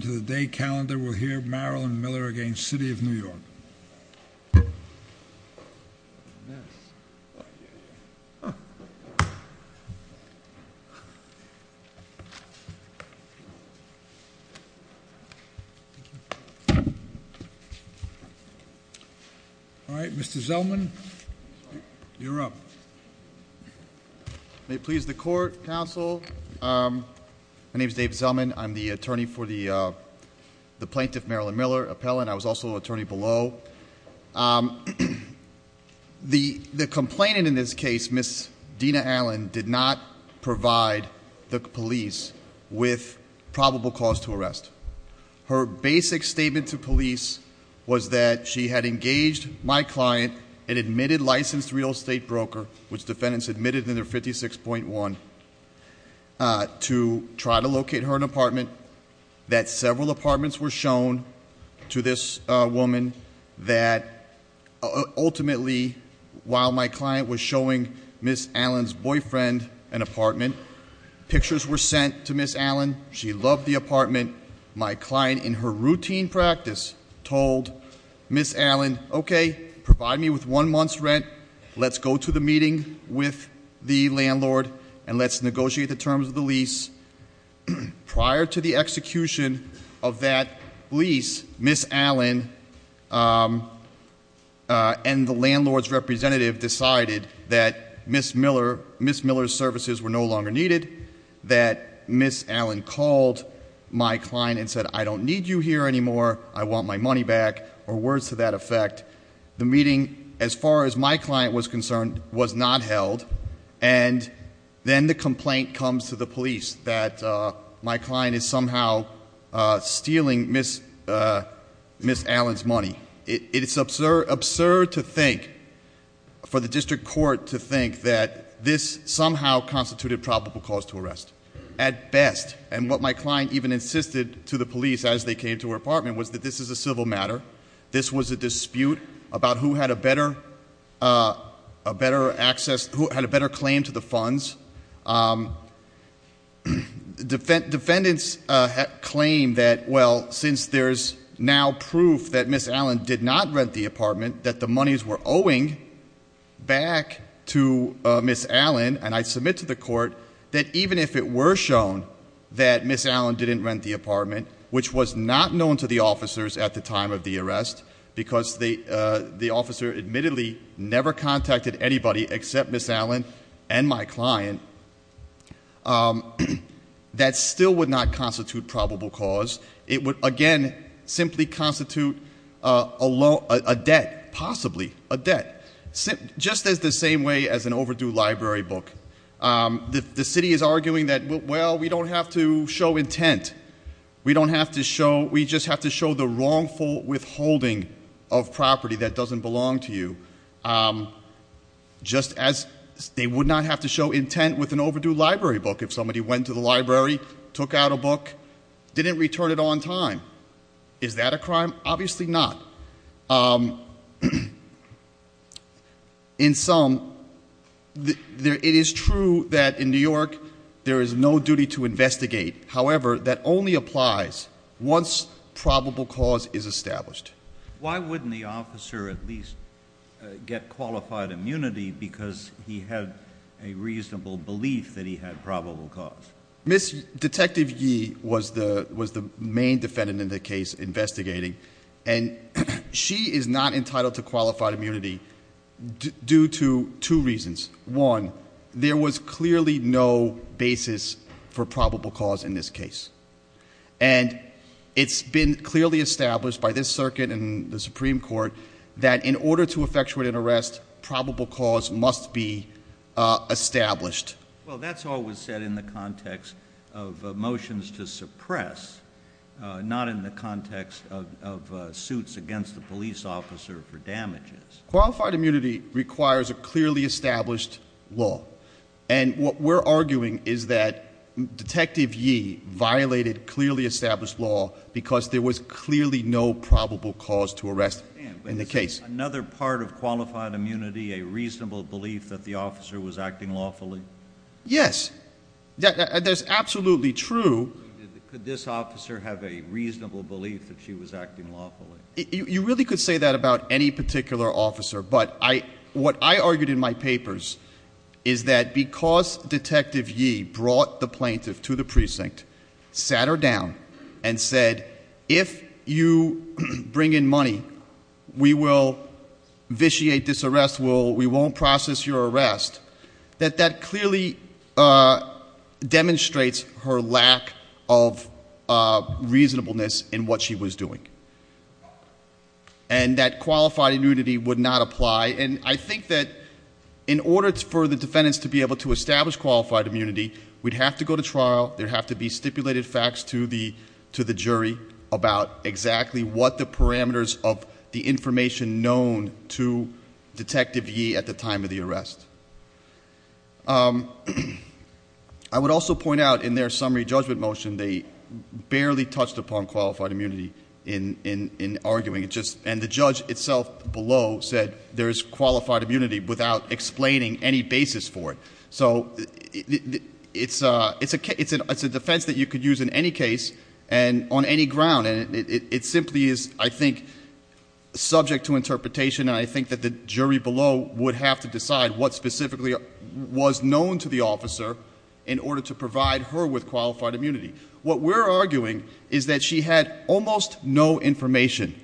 To the day calendar we'll hear Marilyn Miller against City of New York. Alright, Mr. Zellman, you're up. May it please the court, counsel, My name is Dave Zellman. I'm the attorney for the plaintiff Marilyn Miller, appellant. I was also attorney below. The complainant in this case, Ms. Dina Allen, did not provide the police with probable cause to arrest. Her basic statement to police was that she had engaged my client, an admitted licensed real estate broker, which defendants admitted in their 56.1, to try to locate her an apartment. That several apartments were shown to this woman that ultimately, while my client was showing Ms. Allen's boyfriend an apartment, pictures were sent to Ms. Allen. She loved the apartment. My client, in her routine practice, told Ms. Allen, okay, provide me with one month's rent. Let's go to the meeting with the landlord and let's negotiate the terms of the lease. Prior to the execution of that lease, Ms. Allen and the landlord's representative decided that Ms. Miller's services were no longer needed. That Ms. Allen called my client and said, I don't need you here anymore. I want my money back, or words to that effect. The meeting, as far as my client was concerned, was not held. Then the complaint comes to the police that my client is somehow stealing Ms. Allen's money. It is absurd to think, for the district court to think, that this somehow constituted probable cause to arrest. At best, and what my client even insisted to the police as they came to her apartment, was that this is a civil matter. This was a dispute about who had a better claim to the funds. Defendants claim that, well, since there's now proof that Ms. Allen did not rent the apartment, that the monies were owing back to Ms. Allen, and I submit to the court, that even if it were shown that Ms. Allen didn't rent the apartment, which was not known to the officers at the time of the arrest, because the officer admittedly never contacted anybody except Ms. Allen and my client, that still would not constitute probable cause. It would, again, simply constitute a debt, possibly a debt. Just as the same way as an overdue library book. The city is arguing that, well, we don't have to show intent. We just have to show the wrongful withholding of property that doesn't belong to you. Just as they would not have to show intent with an overdue library book if somebody went to the library, took out a book, didn't return it on time. Is that a crime? Obviously not. In sum, it is true that in New York there is no duty to investigate. However, that only applies once probable cause is established. Why wouldn't the officer at least get qualified immunity because he had a reasonable belief that he had probable cause? Ms. Detective Yee was the main defendant in the case investigating. And she is not entitled to qualified immunity due to two reasons. One, there was clearly no basis for probable cause in this case. And it's been clearly established by this circuit and the Supreme Court that in order to effectuate an arrest, probable cause must be established. Well, that's always said in the context of motions to suppress, not in the context of suits against the police officer for damages. Qualified immunity requires a clearly established law. And what we're arguing is that Detective Yee violated clearly established law because there was clearly no probable cause to arrest in the case. Another part of qualified immunity, a reasonable belief that the officer was acting lawfully? Yes. That's absolutely true. Could this officer have a reasonable belief that she was acting lawfully? You really could say that about any particular officer. But what I argued in my papers is that because Detective Yee brought the plaintiff to the precinct, sat her down and said, if you bring in money, we will vitiate this arrest, we won't process your arrest, that that clearly demonstrates her lack of reasonableness in what she was doing. And that qualified immunity would not apply. And I think that in order for the defendants to be able to establish qualified immunity, we'd have to go to trial, there'd have to be stipulated facts to the jury about exactly what the parameters of the information known to Detective Yee at the time of the arrest. I would also point out in their summary judgment motion, they barely touched upon qualified immunity in arguing. And the judge itself below said there is qualified immunity without explaining any basis for it. So it's a defense that you could use in any case on any ground. And it simply is, I think, subject to interpretation. And I think that the jury below would have to decide what specifically was known to the officer in order to provide her with qualified immunity. What we're arguing is that she had almost no information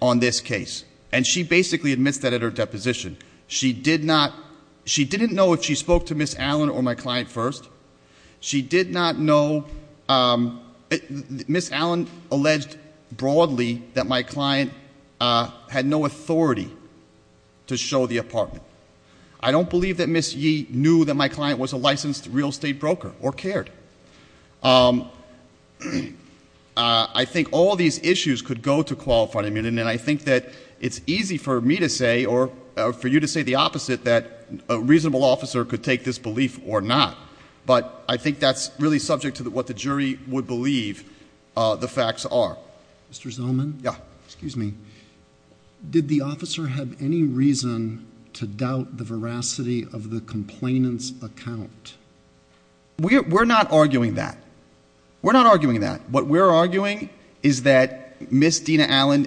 on this case. And she basically admits that at her deposition. She didn't know if she spoke to Ms. Allen or my client first. She did not know Ms. Allen alleged broadly that my client had no authority to show the apartment. I don't believe that Ms. Yee knew that my client was a licensed real estate broker or cared. I think all these issues could go to qualified immunity. And I think that it's easy for me to say or for you to say the opposite that a reasonable officer could take this belief or not. But I think that's really subject to what the jury would believe the facts are. Mr. Zellman, did the officer have any reason to doubt the veracity of the complainant's account? We're not arguing that. We're not arguing that. What we're arguing is that Ms. Dina Allen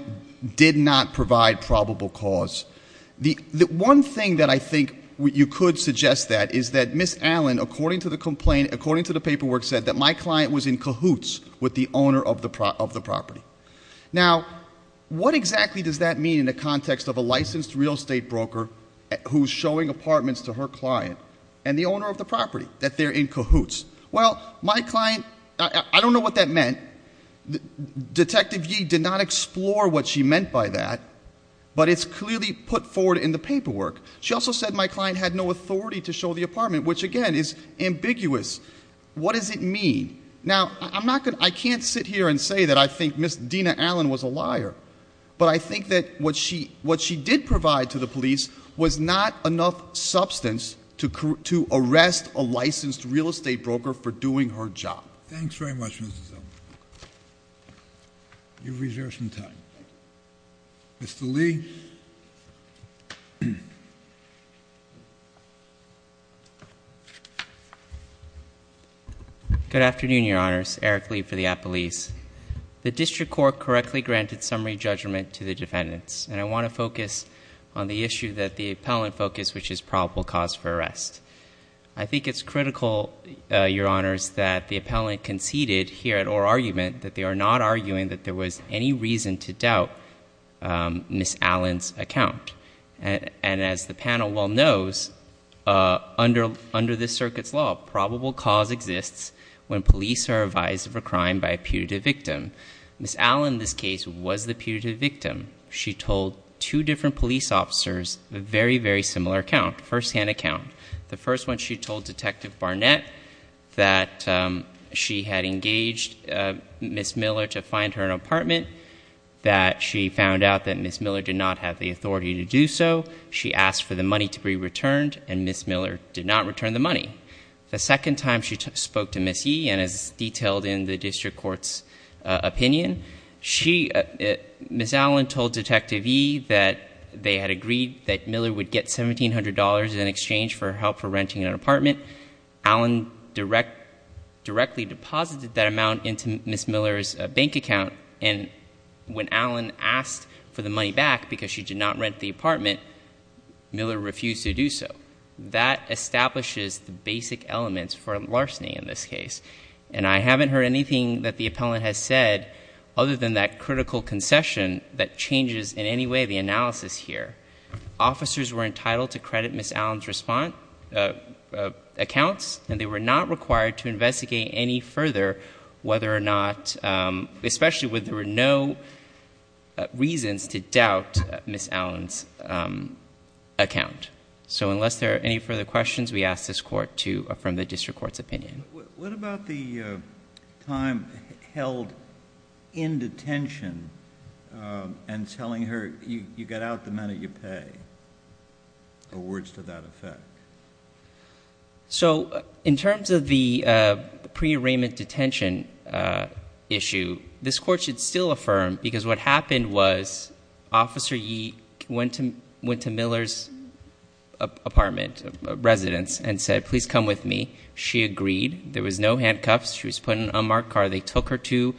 did not provide probable cause. The one thing that I think you could suggest that is that Ms. Allen, according to the complaint, according to the paperwork said that my client was in cahoots with the owner of the property. Now, what exactly does that mean in the context of a licensed real estate broker who's showing apartments to her client and the owner of the property, that they're in cahoots? Well, my client, I don't know what that meant. Detective Yee did not explore what she meant by that. But it's clearly put forward in the paperwork. She also said my client had no authority to show the apartment, which again is ambiguous. What does it mean? Now, I can't sit here and say that I think Ms. Dina Allen was a liar. But I think that what she did provide to the police was not enough substance to arrest a licensed real estate broker for doing her job. Thanks very much, Mr. Zellman. You've reserved some time. Mr. Lee. Good afternoon, Your Honors. Eric Lee for the Appellees. The District Court correctly granted summary judgment to the defendants. And I want to focus on the issue that the appellant focused, which is probable cause for arrest. I think it's critical, Your Honors, that the appellant conceded here at oral argument that they are not arguing that there was any reason to doubt Ms. Allen's account. And as the panel well knows, under this circuit's law, probable cause exists when police are advised of a crime by a putative victim. Ms. Allen, in this case, was the putative victim. She told two different police officers a very, very similar account, firsthand account. The first one, she told Detective Barnett that she had engaged Ms. Miller to find her an apartment, that she found out that Ms. Miller did not have the authority to do so. She asked for the money to be returned, and Ms. Miller did not return the money. The second time she spoke to Ms. Yee, and as detailed in the District Court's opinion, Ms. Allen told Detective Yee that they had agreed that Miller would get $1,700 in exchange for her help for renting an apartment. Allen directly deposited that amount into Ms. Miller's bank account, and when Allen asked for the money back because she did not rent the apartment, Miller refused to do so. That establishes the basic elements for larceny in this case. And I haven't heard anything that the appellant has said other than that critical concession that changes in any way the analysis here. Officers were entitled to credit Ms. Allen's accounts, and they were not required to investigate any further whether or not, especially when there were no reasons to doubt Ms. Allen's account. So unless there are any further questions, we ask this Court to affirm the District Court's opinion. What about the time held in detention and telling her, you get out the amount that you pay, or words to that effect? So in terms of the pre-arraignment detention issue, this Court should still affirm, because what happened was Officer Yee went to Miller's apartment, residence, and said, please come with me. She agreed. There was no handcuffs. She was put in a marked car. They took her to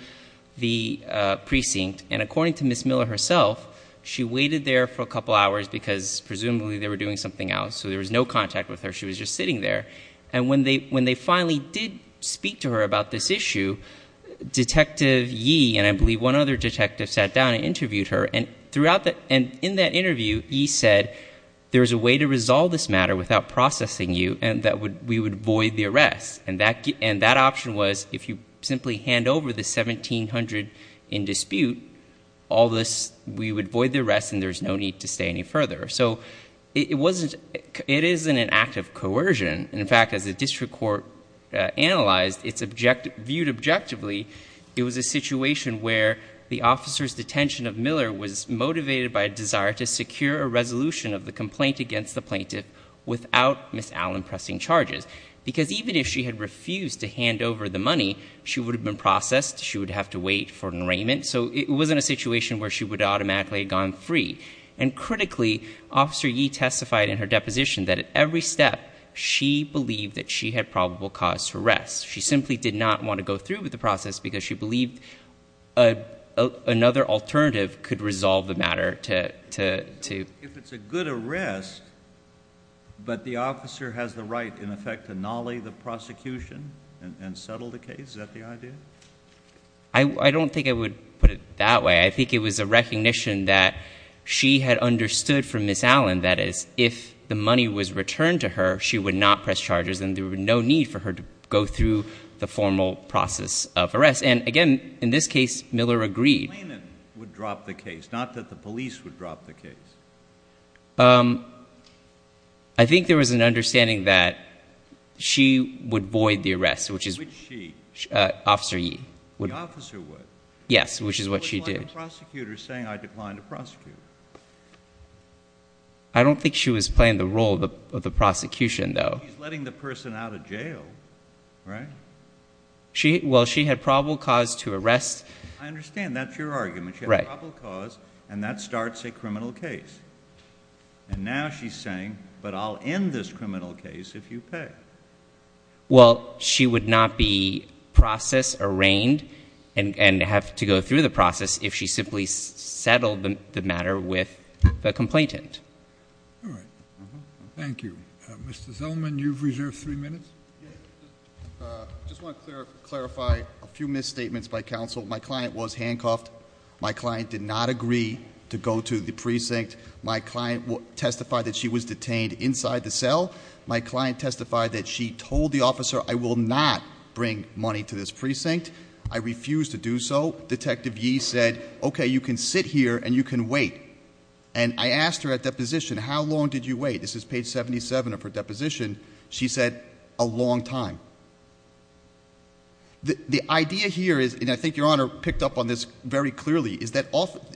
the precinct. And according to Ms. Miller herself, she waited there for a couple hours because presumably they were doing something else. So there was no contact with her. She was just sitting there. And when they finally did speak to her about this issue, Detective Yee, and I believe one other detective, sat down and interviewed her. And in that interview, Yee said, there's a way to resolve this matter without processing you, and that we would void the arrest. And that option was, if you simply hand over the $1,700 in dispute, we would void the arrest and there's no need to stay any further. So it isn't an act of coercion. In fact, as the District Court analyzed, it's viewed objectively, it was a situation where the officer's detention of Miller was without Ms. Allen pressing charges. Because even if she had refused to hand over the money, she would have been processed. She would have to wait for an arraignment. So it wasn't a situation where she would have automatically gone free. And critically, Officer Yee testified in her deposition that at every step, she believed that she had probable cause to arrest. She simply did not want to go through with the process because she believed another alternative could resolve the matter. If it's a good arrest, but the officer has the right, in effect, to nolly the prosecution and settle the case, is that the idea? I don't think I would put it that way. I think it was a recognition that she had understood from Ms. Allen that if the money was returned to her, she would not press charges and there would be no need for her to go through the formal process of arrest. And again, in this case, Miller agreed. Not that the police would drop the case. I think there was an understanding that she would void the arrest, which is what she, Officer Yee, would. Yes, which is what she did. I don't think she was playing the role of the prosecution, though. She's letting the person out of jail, right? I understand. That's your argument. She had probable cause, and that starts a criminal case. And now she's saying, but I'll end this criminal case if you pay. Well, she would not be process arraigned and have to go through the process if she simply settled the matter with the police. I just want to clarify a few misstatements by counsel. My client was handcuffed. My client did not agree to go to the precinct. My client testified that she was detained inside the cell. My client testified that she told the officer, I will not bring money to this precinct. I refused to do so. Detective Yee said, okay, you can sit here and you can wait. And I asked her at deposition, how long did you wait? This is page 77 of her deposition. She said, a long time. The idea here is, and I think Your Honor picked up on this very clearly, is that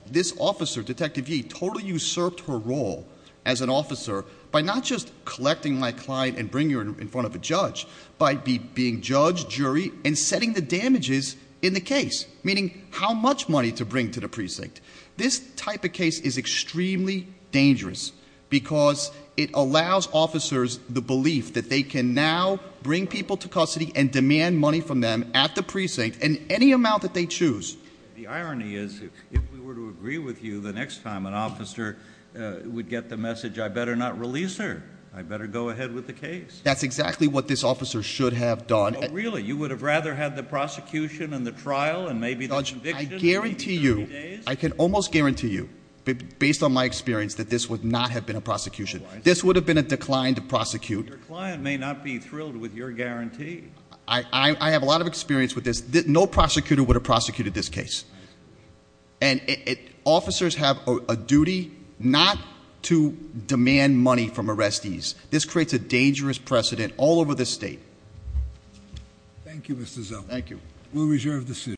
this officer, Detective Yee, totally usurped her role as an officer by not just collecting my client and putting her in front of a judge, but by being judge, jury, and setting the damages in the case. Meaning, how much money to bring to the precinct. This type of case is extremely dangerous because it allows officers the belief that they can now bring people to custody and demand money from them at the precinct in any amount that they choose. The irony is, if we were to agree with you, the next time an officer would get the message, I better not release her. I better go ahead with the case. That's exactly what this officer should have done. Really? You would have rather had the prosecution and the trial and maybe the conviction? I guarantee you, I can almost guarantee you, based on my experience, that this would not have been a prosecution. This would have been a declined prosecute. Your client may not be thrilled with your guarantee. I have a lot of experience with this. No prosecutor would have prosecuted this case. Officers have a duty not to demand money from arrestees. This creates a dangerous precedent all over this state. Thank you, Mr. Zell. We'll reserve the seat.